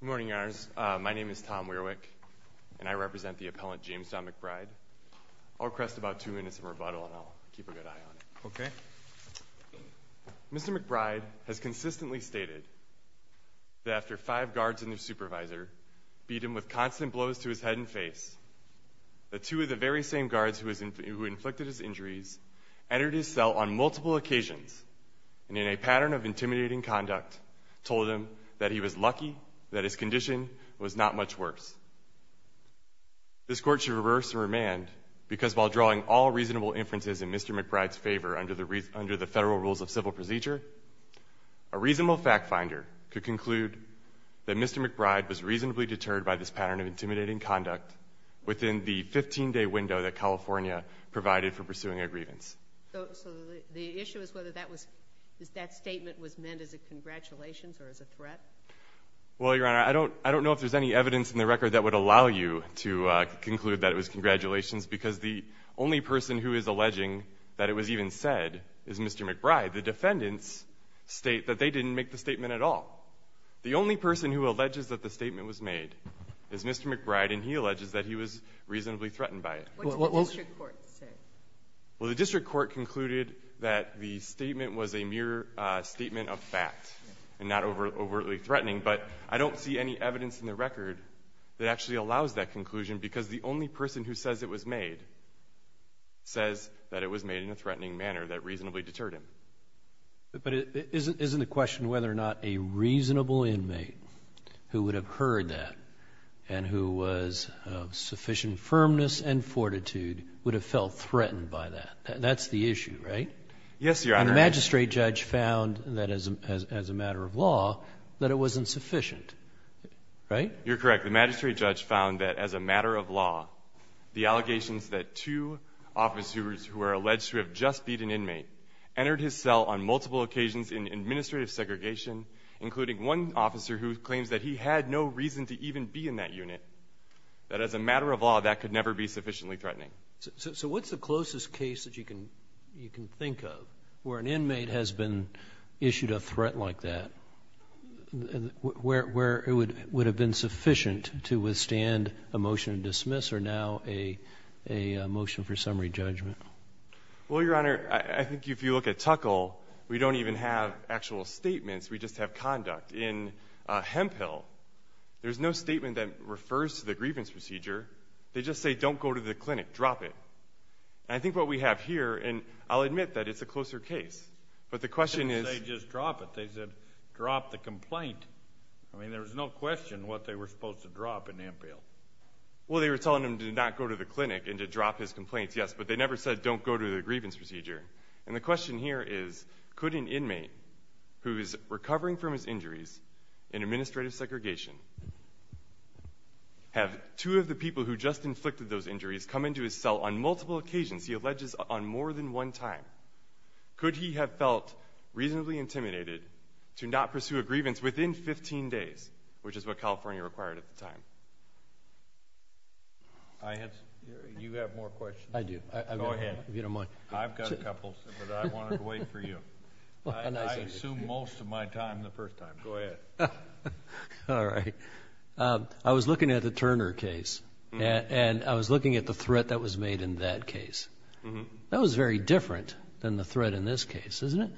Good morning, Your Honors. My name is Tom Weirwick, and I represent the appellant James Don McBride. I'll request about two minutes of rebuttal, and I'll keep a good eye on it. Okay. Mr. McBride has consistently stated that after five guards and their supervisor beat him with constant blows to his head and face, the two of the very same guards who inflicted his injuries entered his cell on multiple occasions and, in a pattern of intimidating conduct, told him that he was lucky that his condition was not much worse. This Court should reverse the remand because, while drawing all reasonable inferences in Mr. McBride's favor under the Federal Rules of Civil Procedure, a reasonable factfinder could conclude that Mr. McBride was reasonably deterred by this pattern of intimidating conduct within the 15-day window that California provided for pursuing a grievance. So the issue is whether that statement was meant as a congratulations or as a threat? Well, Your Honor, I don't know if there's any evidence in the record that would allow you to conclude that it was congratulations because the only person who is alleging that it was even said is Mr. McBride. The defendants state that they didn't make the statement at all. The only person who alleges that the statement was made is Mr. McBride, and he alleges that he was reasonably threatened by it. What does the District Court say? Well, the District Court concluded that the statement was a mere statement of fact and not overtly threatening, but I don't see any evidence in the record that actually allows that conclusion because the only person who says it was made says that it was made in a threatening manner that reasonably deterred him. But isn't the question whether or not a reasonable inmate who would have heard that and who was of sufficient firmness and fortitude would have felt threatened by that? That's the issue, right? Yes, Your Honor. And the magistrate judge found that as a matter of law that it wasn't sufficient, right? You're correct. The magistrate judge found that as a matter of law, the allegations that two officers who are alleged to have just beat an inmate entered his cell on multiple occasions in administrative segregation, including one officer who claims that he had no reason to even be in that unit, that as a matter of law that could never be sufficiently threatening. So what's the closest case that you can think of where an inmate has been issued a threat like that, where it would have been sufficient to withstand a motion to dismiss or now a motion for summary judgment? Well, Your Honor, I think if you look at Tuckall, we don't even have actual statements. We just have conduct. In Hemphill, there's no statement that refers to the grievance procedure. They just say don't go to the clinic, drop it. And I think what we have here, and I'll admit that it's a closer case, but the question is— They didn't say just drop it. They said drop the complaint. I mean there was no question what they were supposed to drop in Hemphill. Well, they were telling him to not go to the clinic and to drop his complaints, yes, but they never said don't go to the grievance procedure. And the question here is could an inmate who is recovering from his injuries in administrative segregation have two of the people who just inflicted those injuries come into his cell on multiple occasions, he alleges, on more than one time? Could he have felt reasonably intimidated to not pursue a grievance within 15 days, which is what California required at the time? You have more questions. I do. Go ahead. If you don't mind. I've got a couple, but I wanted to wait for you. I assume most of my time the first time. Go ahead. All right. I was looking at the Turner case, and I was looking at the threat that was made in that case. That was very different than the threat in this case, isn't it?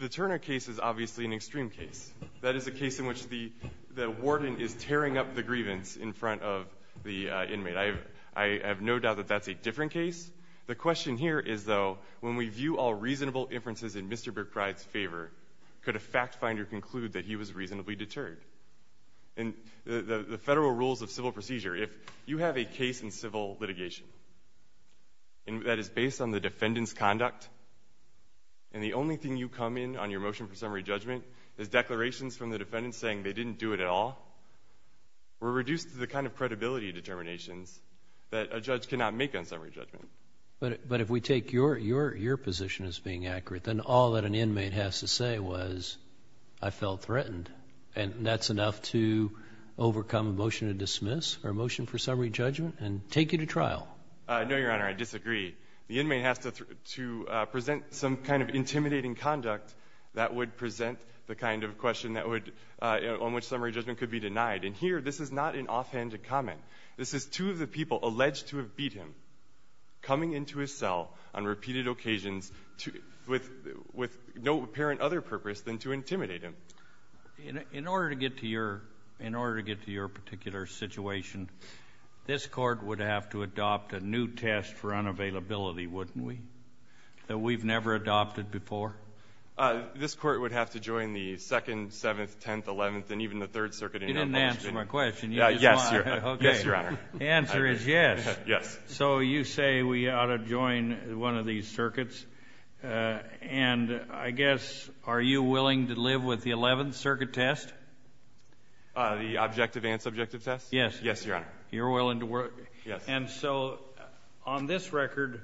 The Turner case is obviously an extreme case. That is a case in which the warden is tearing up the grievance in front of the inmate. I have no doubt that that's a different case. The question here is, though, when we view all reasonable inferences in Mr. Brickbride's favor, could a fact finder conclude that he was reasonably deterred? In the federal rules of civil procedure, if you have a case in civil litigation that is based on the defendant's conduct and the only thing you come in on your motion for summary judgment is declarations from the defendant saying they didn't do it at all, we're reduced to the kind of credibility determinations that a judge cannot make on summary judgment. But if we take your position as being accurate, then all that an inmate has to say was, I felt threatened, and that's enough to overcome a motion to dismiss or a motion for summary judgment and take you to trial? No, Your Honor, I disagree. The inmate has to present some kind of intimidating conduct that would present the kind of question on which summary judgment could be denied. And here, this is not an offhand comment. This is two of the people alleged to have beat him coming into his cell on repeated occasions with no apparent other purpose than to intimidate him. In order to get to your particular situation, this Court would have to adopt a new test for unavailability, wouldn't we, that we've never adopted before? This Court would have to join the 2nd, 7th, 10th, 11th, and even the 3rd Circuit. You didn't answer my question. Yes, Your Honor. The answer is yes. Yes. So you say we ought to join one of these circuits, and I guess are you willing to live with the 11th Circuit test? The objective and subjective test? Yes. Yes, Your Honor. You're willing to work? Yes. And so on this record,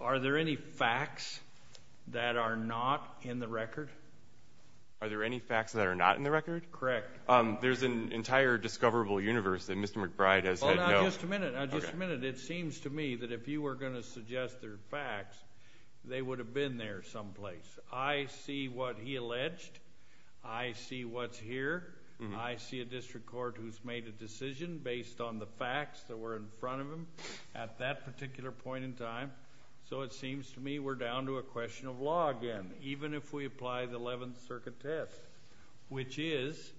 are there any facts that are not in the record? Are there any facts that are not in the record? Correct. There's an entire discoverable universe that Mr. McBride has had known. Well, now, just a minute. Now, just a minute. It seems to me that if you were going to suggest there are facts, they would have been there someplace. I see what he alleged. I see what's here. I see a district court who's made a decision based on the facts that were in front of him at that particular point in time. So it seems to me we're down to a question of law again, even if we apply the 11th Circuit test, which is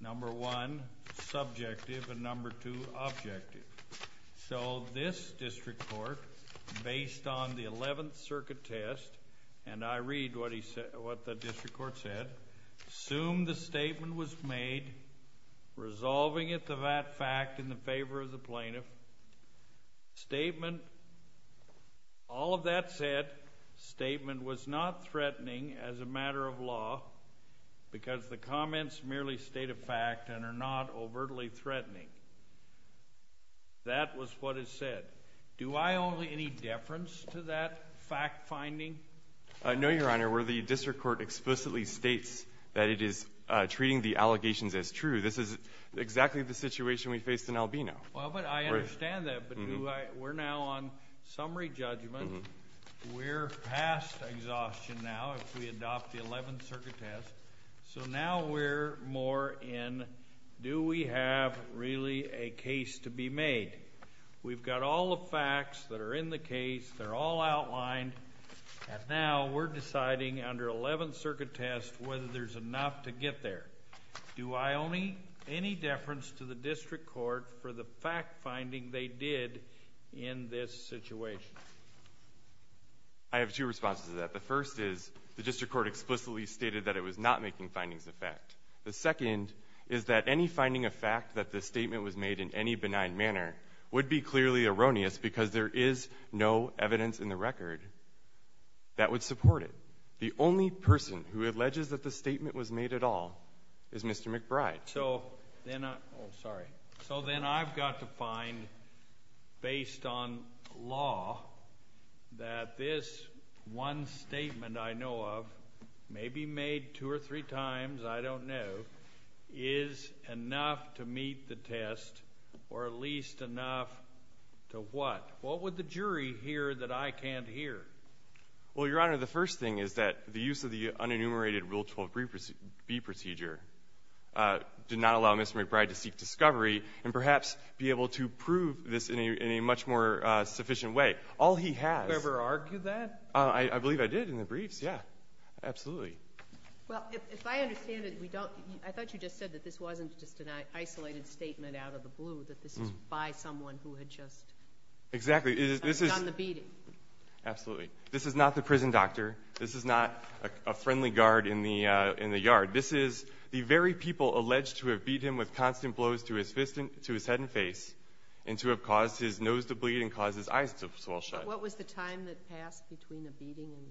number one, subjective, and number two, objective. So this district court, based on the 11th Circuit test, and I read what the district court said, assumed the statement was made resolving it to that fact in favor of the plaintiff. Statement, all of that said, statement was not threatening as a matter of law because the comments merely state a fact and are not overtly threatening. That was what is said. Do I owe any deference to that fact finding? No, Your Honor, where the district court explicitly states that it is treating the allegations as true. This is exactly the situation we faced in Albino. Well, but I understand that, but we're now on summary judgment. We're past exhaustion now if we adopt the 11th Circuit test. So now we're more in do we have really a case to be made? We've got all the facts that are in the case. They're all outlined, and now we're deciding under 11th Circuit test whether there's enough to get there. Do I owe any deference to the district court for the fact finding they did in this situation? I have two responses to that. The first is the district court explicitly stated that it was not making findings of fact. The second is that any finding of fact that the statement was made in any benign manner would be clearly erroneous because there is no evidence in the record that would support it. The only person who alleges that the statement was made at all is Mr. McBride. All right. So then I've got to find, based on law, that this one statement I know of may be made two or three times, I don't know, is enough to meet the test or at least enough to what? What would the jury hear that I can't hear? Well, Your Honor, the first thing is that the use of the unenumerated Rule 12b procedure did not allow Mr. McBride to seek discovery and perhaps be able to prove this in a much more sufficient way. All he has – Did you ever argue that? I believe I did in the briefs, yeah. Absolutely. Well, if I understand it, I thought you just said that this wasn't just an isolated statement out of the blue, that this was by someone who had just done the beating. Absolutely. This is not the prison doctor. This is not a friendly guard in the yard. This is the very people alleged to have beat him with constant blows to his head and face and to have caused his nose to bleed and caused his eyes to swell shut. But what was the time that passed between the beating and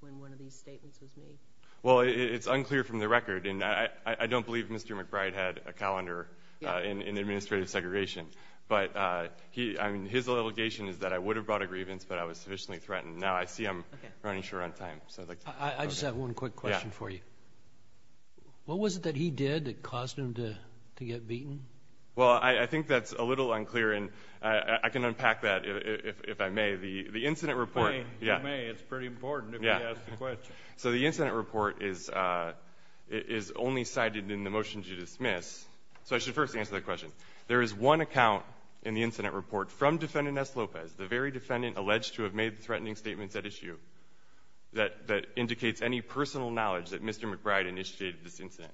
when one of these statements was made? Well, it's unclear from the record, and I don't believe Mr. McBride had a calendar in administrative segregation. But his allegation is that I would have brought a grievance, but I was sufficiently threatened. Now I see I'm running short on time. I just have one quick question for you. What was it that he did that caused him to get beaten? Well, I think that's a little unclear, and I can unpack that if I may. The incident report – You may. It's pretty important if we ask the question. So the incident report is only cited in the motion to dismiss. So I should first answer the question. There is one account in the incident report from Defendant S. Lopez, the very defendant alleged to have made the threatening statements at issue, that indicates any personal knowledge that Mr. McBride initiated this incident.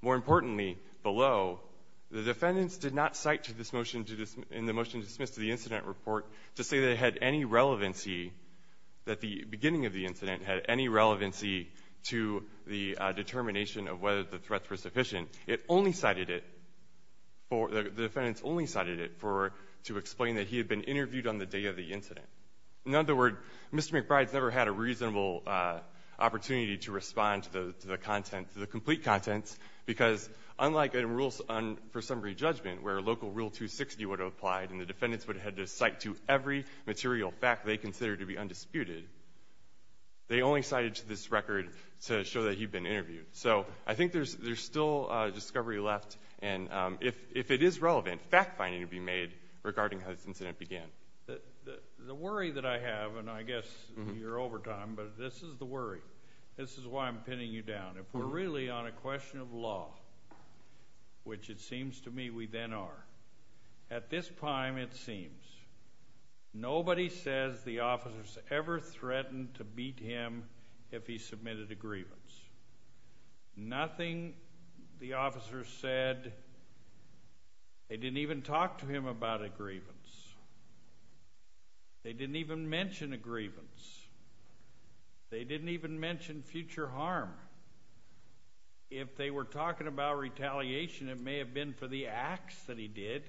More importantly, below, the defendants did not cite in the motion to dismiss to the incident report to say that it had any relevancy, that the beginning of the incident had any relevancy to the determination of whether the threats were sufficient. It only cited it – the defendants only cited it to explain that he had been interviewed on the day of the incident. In other words, Mr. McBride's never had a reasonable opportunity to respond to the content, to the complete content, because unlike in Rules for Summary Judgment, where local Rule 260 would have applied and the defendants would have had to cite to every material fact they considered to be undisputed, they only cited this record to show that he'd been interviewed. So I think there's still discovery left, and if it is relevant, fact-finding will be made regarding how this incident began. The worry that I have, and I guess you're over time, but this is the worry. This is why I'm pinning you down. If we're really on a question of law, which it seems to me we then are, at this time it seems nobody says the officers ever threatened to beat him if he submitted a grievance. Nothing the officers said. They didn't even talk to him about a grievance. They didn't even mention a grievance. They didn't even mention future harm. If they were talking about retaliation, it may have been for the acts that he did,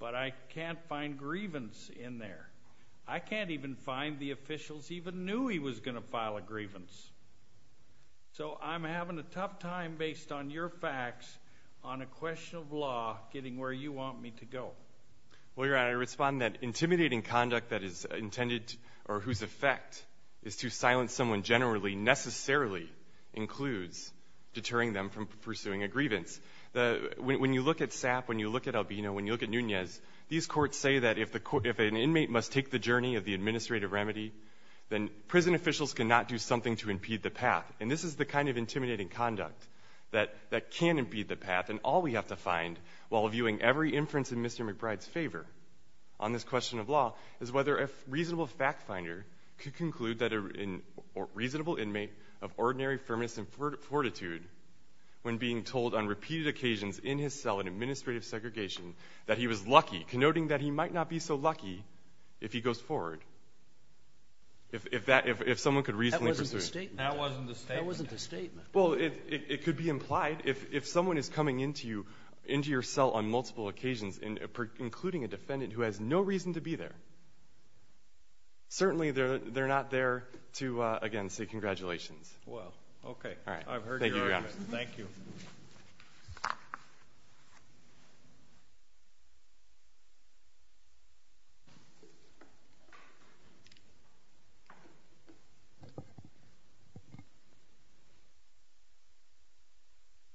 but I can't find grievance in there. I can't even find the officials even knew he was going to file a grievance. So I'm having a tough time based on your facts on a question of law getting where you want me to go. Well, Your Honor, I respond that intimidating conduct that is intended or whose effect is to silence someone generally necessarily includes deterring them from pursuing a grievance. When you look at SAP, when you look at Albino, when you look at Nunez, these courts say that if an inmate must take the journey of the administrative remedy, then prison officials cannot do something to impede the path. And this is the kind of intimidating conduct that can impede the path. And all we have to find while viewing every inference in Mr. McBride's favor on this question of law is whether a reasonable fact finder could conclude that a reasonable inmate of ordinary firmness and fortitude when being told on repeated occasions in his cell in administrative segregation that he was lucky, connoting that he might not be so lucky if he goes forward. If someone could reasonably pursue. That wasn't the statement. That wasn't the statement. That wasn't the statement. Well, it could be implied. If someone is coming into your cell on multiple occasions, including a defendant who has no reason to be there, certainly they're not there to, again, say congratulations. Well, okay. All right. I've heard your arguments. Thank you, Your Honor. Thank you. Thank you.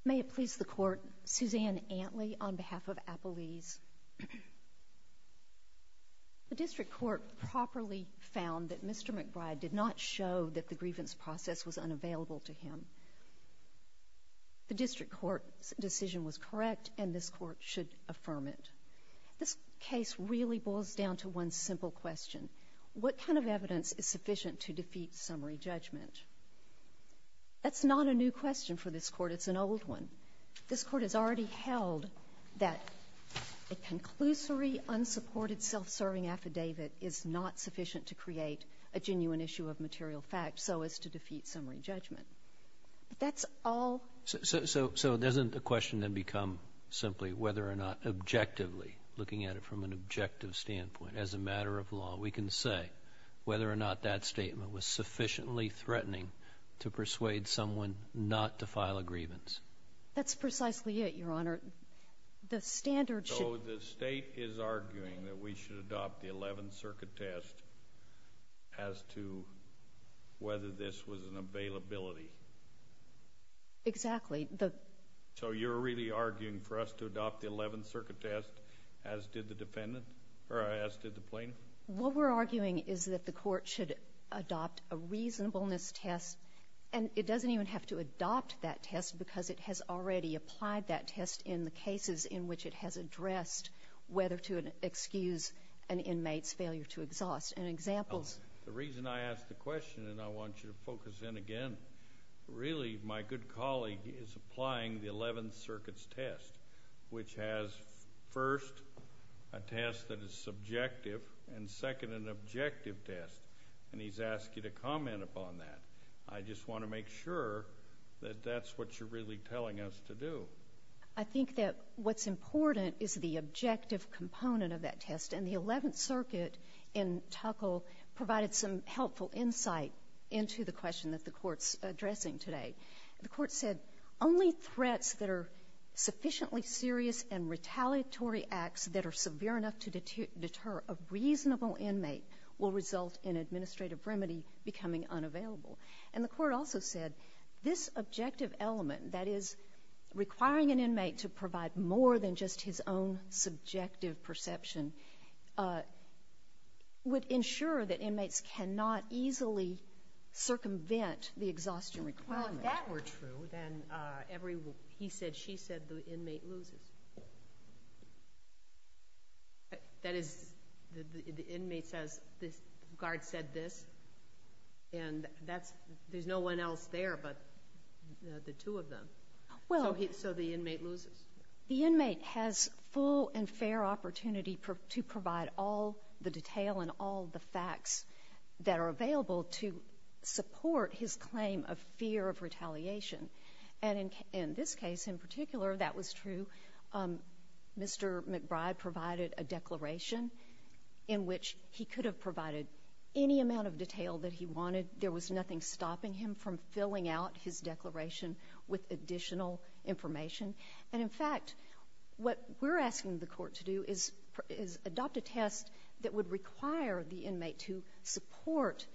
May it please the Court. Suzanne Antley on behalf of Appalese. The district court properly found that Mr. McBride did not show that the grievance process was unavailable to him. The district court's decision was correct, and this court should affirm it. This case really boils down to one simple question. What kind of evidence is sufficient to defeat summary judgment? That's not a new question for this court. It's an old one. This court has already held that a conclusory, unsupported, self-serving affidavit is not sufficient to create a genuine issue of material fact so as to defeat summary judgment. That's all. So doesn't the question then become simply whether or not objectively, looking at it from an objective standpoint as a matter of law, we can say whether or not that statement was sufficiently threatening to persuade someone not to file a grievance? That's precisely it, Your Honor. The standard should be... So the state is arguing that we should adopt the Eleventh Circuit test as to whether this was an availability. Exactly. So you're really arguing for us to adopt the Eleventh Circuit test as did the plaintiff? What we're arguing is that the court should adopt a reasonableness test, and it doesn't even have to adopt that test because it has already applied that test in the cases in which it has addressed whether to excuse And examples... The reason I ask the question, and I want you to focus in again, really my good colleague is applying the Eleventh Circuit's test, which has first a test that is subjective and second an objective test, and he's asked you to comment upon that. I just want to make sure that that's what you're really telling us to do. I think that what's important is the objective component of that test, and the Eleventh Circuit in Tuckall provided some helpful insight into the question that the Court's addressing today. The Court said, Only threats that are sufficiently serious and retaliatory acts that are severe enough to deter a reasonable inmate will result in administrative remedy becoming unavailable. And the Court also said this objective element, that is requiring an inmate to provide more than just his own subjective perception, would ensure that inmates cannot easily circumvent the exhaustion requirement. Well, if that were true, then he said, she said, the inmate loses. That is, the inmate says, the guard said this, and there's no one else there but the two of them. So the inmate loses. The inmate has full and fair opportunity to provide all the detail and all the facts that are available to support his claim of fear of retaliation. And in this case, in particular, that was true. Mr. McBride provided a declaration in which he could have provided any amount of detail that he wanted. There was nothing stopping him from filling out his declaration with additional information. And, in fact, what we're asking the Court to do is adopt a test that would require the inmate to support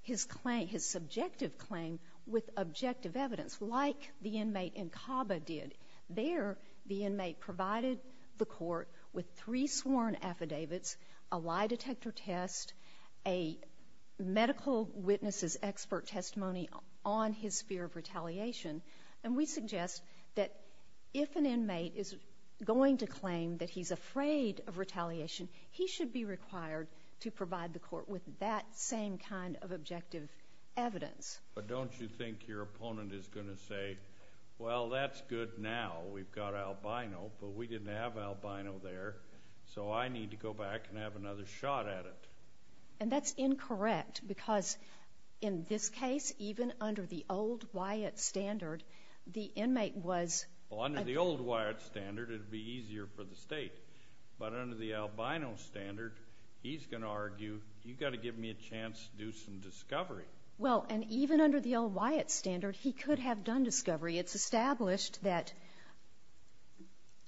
his claim, his subjective claim, with objective evidence, like the inmate in Caba did. There, the inmate provided the Court with three sworn affidavits, a lie detector test, a medical witness's expert testimony on his fear of retaliation. And we suggest that if an inmate is going to claim that he's afraid of retaliation, he should be required to provide the Court with that same kind of objective evidence. But don't you think your opponent is going to say, well, that's good now, we've got albino, but we didn't have albino there, so I need to go back and have another shot at it. And that's incorrect because, in this case, even under the old Wyatt standard, the inmate was... Well, under the old Wyatt standard, it would be easier for the State. But under the albino standard, he's going to argue, you've got to give me a chance to do some discovery. Well, and even under the old Wyatt standard, he could have done discovery. It's established that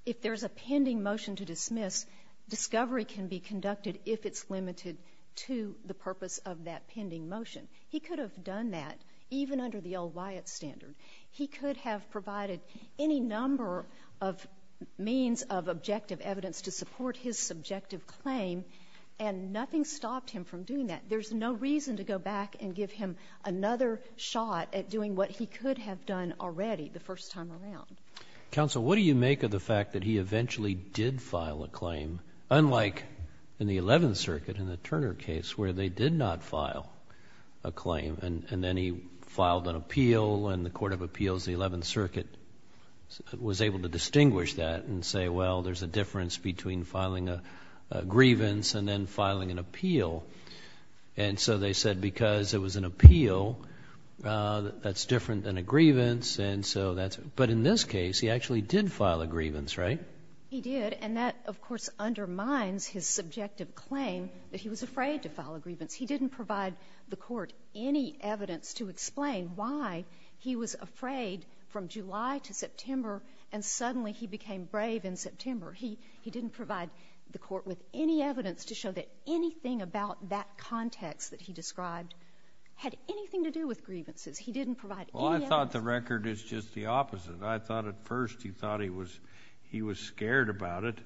if there's a pending motion to dismiss, discovery can be conducted if it's limited to the purpose of that pending motion. He could have done that even under the old Wyatt standard. He could have provided any number of means of objective evidence to support his subjective claim, and nothing stopped him from doing that. There's no reason to go back and give him another shot at doing what he could have done already the first time around. Counsel, what do you make of the fact that he eventually did file a claim, unlike in the Eleventh Circuit, in the Turner case, where they did not file a claim, and then he filed an appeal, and the Court of Appeals, the Eleventh Circuit, was able to distinguish that and say, well, there's a difference between filing a grievance and then filing an appeal. And so they said because it was an appeal, that's different than a grievance. But in this case, he actually did file a grievance, right? He did, and that, of course, undermines his subjective claim that he was afraid to file a grievance. He didn't provide the court any evidence to explain why he was afraid from July to September, and suddenly he became brave in September. He didn't provide the court with any evidence to show that anything about that context that he described had anything to do with grievances. He didn't provide any evidence. Well, I thought the record is just the opposite. I thought at first he thought he was scared about it,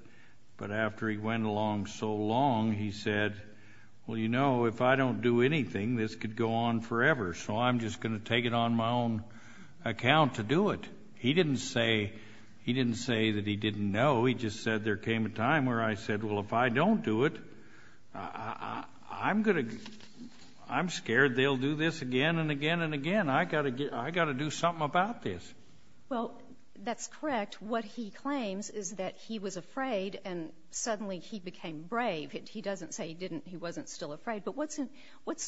but after he went along so long, he said, well, you know, if I don't do anything, this could go on forever, so I'm just going to take it on my own account to do it. He didn't say that he didn't know. He just said there came a time where I said, well, if I don't do it, I'm scared they'll do this again and again and again. I've got to do something about this. Well, that's correct. What he claims is that he was afraid and suddenly he became brave. He doesn't say he wasn't still afraid. But what's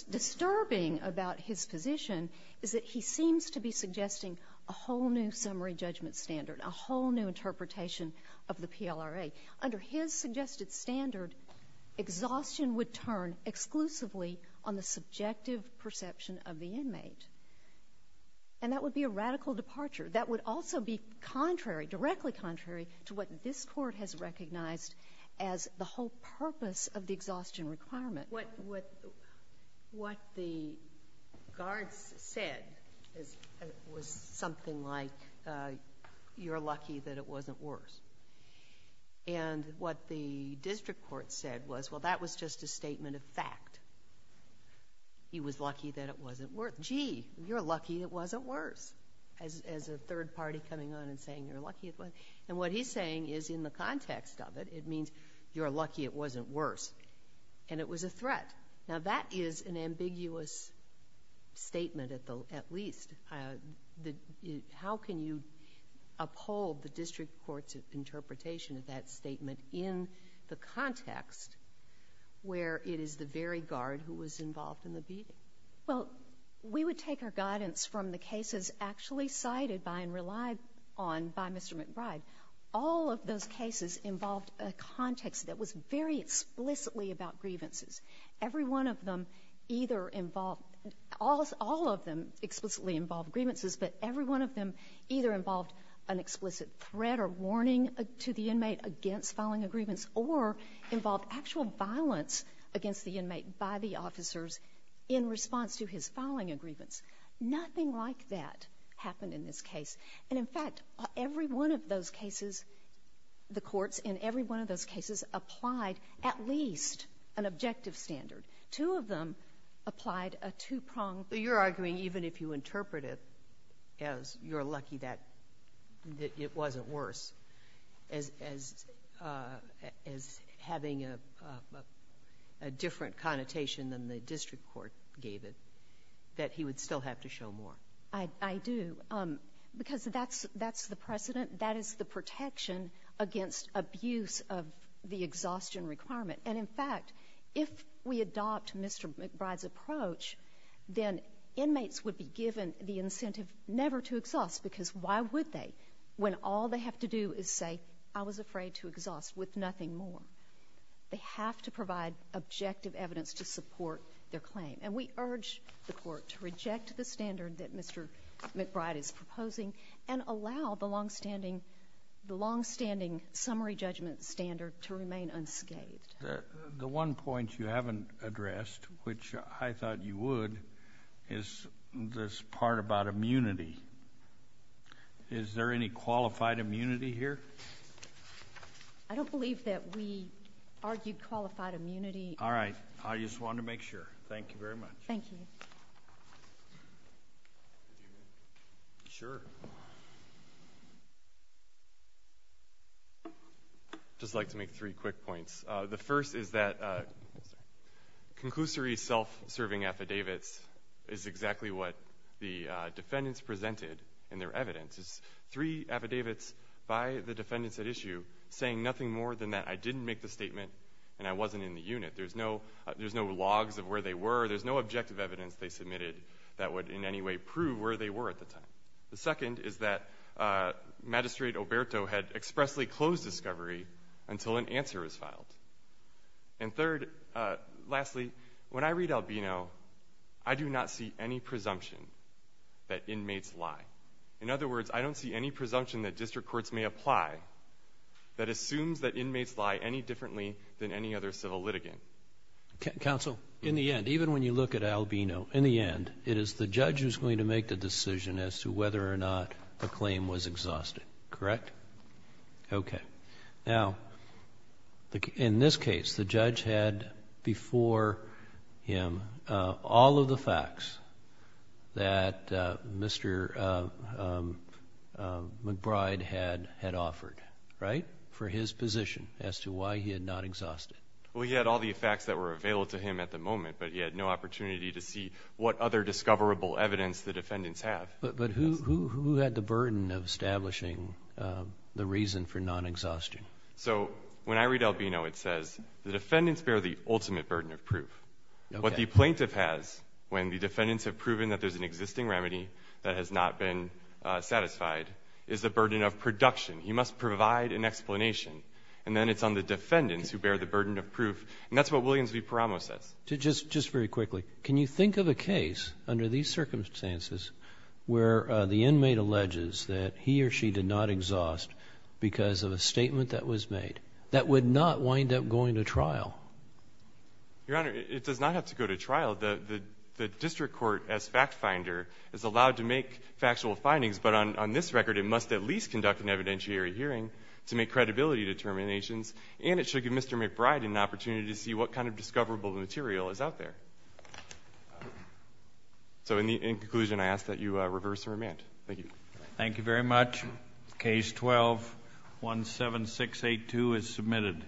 disturbing about his position is that he seems to be suggesting a whole new summary judgment standard, a whole new interpretation of the PLRA. Under his suggested standard, exhaustion would turn exclusively on the subjective perception of the inmate, and that would be a radical departure. That would also be contrary, directly contrary to what this court has recognized as the whole purpose of the exhaustion requirement. What the guards said was something like, you're lucky that it wasn't worse. And what the district court said was, well, that was just a statement of fact. He was lucky that it wasn't worse. Gee, you're lucky it wasn't worse, as a third party coming on and saying you're lucky it wasn't. And what he's saying is in the context of it, it means you're lucky it wasn't worse and it was a threat. Now, that is an ambiguous statement at least. How can you uphold the district court's interpretation of that statement in the context where it is the very guard who was involved in the beating? Well, we would take our guidance from the cases actually cited by and relied on by Mr. McBride. All of those cases involved a context that was very explicitly about grievances. Every one of them either involved ñ all of them explicitly involved grievances, but every one of them either involved an explicit threat or warning to the inmate against filing a grievance or involved actual violence against the inmate by the officers in response to his filing a grievance. Nothing like that happened in this case. And, in fact, every one of those cases, the courts in every one of those cases applied at least an objective standard. Two of them applied a two-prongedÖ You're arguing even if you interpret it as you're lucky that it wasn't worse, as having a different connotation than the district court gave it, that he would still have to show more. I do because that's the precedent. That is the protection against abuse of the exhaustion requirement. And, in fact, if we adopt Mr. McBride's approach, then inmates would be given the incentive never to exhaust because why would they when all they have to do is say, I was afraid to exhaust with nothing more? They have to provide objective evidence to support their claim. And we urge the court to reject the standard that Mr. McBride is proposing and allow the longstanding summary judgment standard to remain unscathed. The one point you haven't addressed, which I thought you would, is this part about immunity. Is there any qualified immunity here? I don't believe that we argue qualified immunity. All right. I just wanted to make sure. Thank you very much. Thank you. Mr. McBride. Sure. I'd just like to make three quick points. The first is that conclusory self-serving affidavits is exactly what the defendants presented in their evidence. It's three affidavits by the defendants at issue saying nothing more than that I didn't make the statement and I wasn't in the unit. There's no logs of where they were. There's no objective evidence they submitted that would in any way prove where they were at the time. The second is that Magistrate Alberto had expressly closed discovery until an answer was filed. And third, lastly, when I read Albino, I do not see any presumption that inmates lie. In other words, I don't see any presumption that district courts may apply that assumes that inmates lie any differently than any other civil litigant. Counsel? In the end, even when you look at Albino, in the end, it is the judge who's going to make the decision as to whether or not the claim was exhausted. Correct? Okay. Now, in this case, the judge had before him all of the facts that Mr. McBride had offered, right, for his position as to why he had not exhausted it. Well, he had all the facts that were available to him at the moment, but he had no opportunity to see what other discoverable evidence the defendants have. But who had the burden of establishing the reason for non-exhaustion? So when I read Albino, it says the defendants bear the ultimate burden of proof. What the plaintiff has when the defendants have proven that there's an existing remedy that has not been satisfied is the burden of production. He must provide an explanation. And then it's on the defendants who bear the burden of proof, and that's what Williams v. Paramo says. Just very quickly, can you think of a case under these circumstances where the inmate alleges that he or she did not exhaust because of a statement that was made that would not wind up going to trial? Your Honor, it does not have to go to trial. The district court, as fact finder, is allowed to make factual findings, but on this record it must at least conduct an evidentiary hearing to make credibility determinations, and it should give Mr. McBride an opportunity to see what kind of discoverable material is out there. So in conclusion, I ask that you reverse the remand. Thank you. Thank you very much. Case 12-17682 is submitted.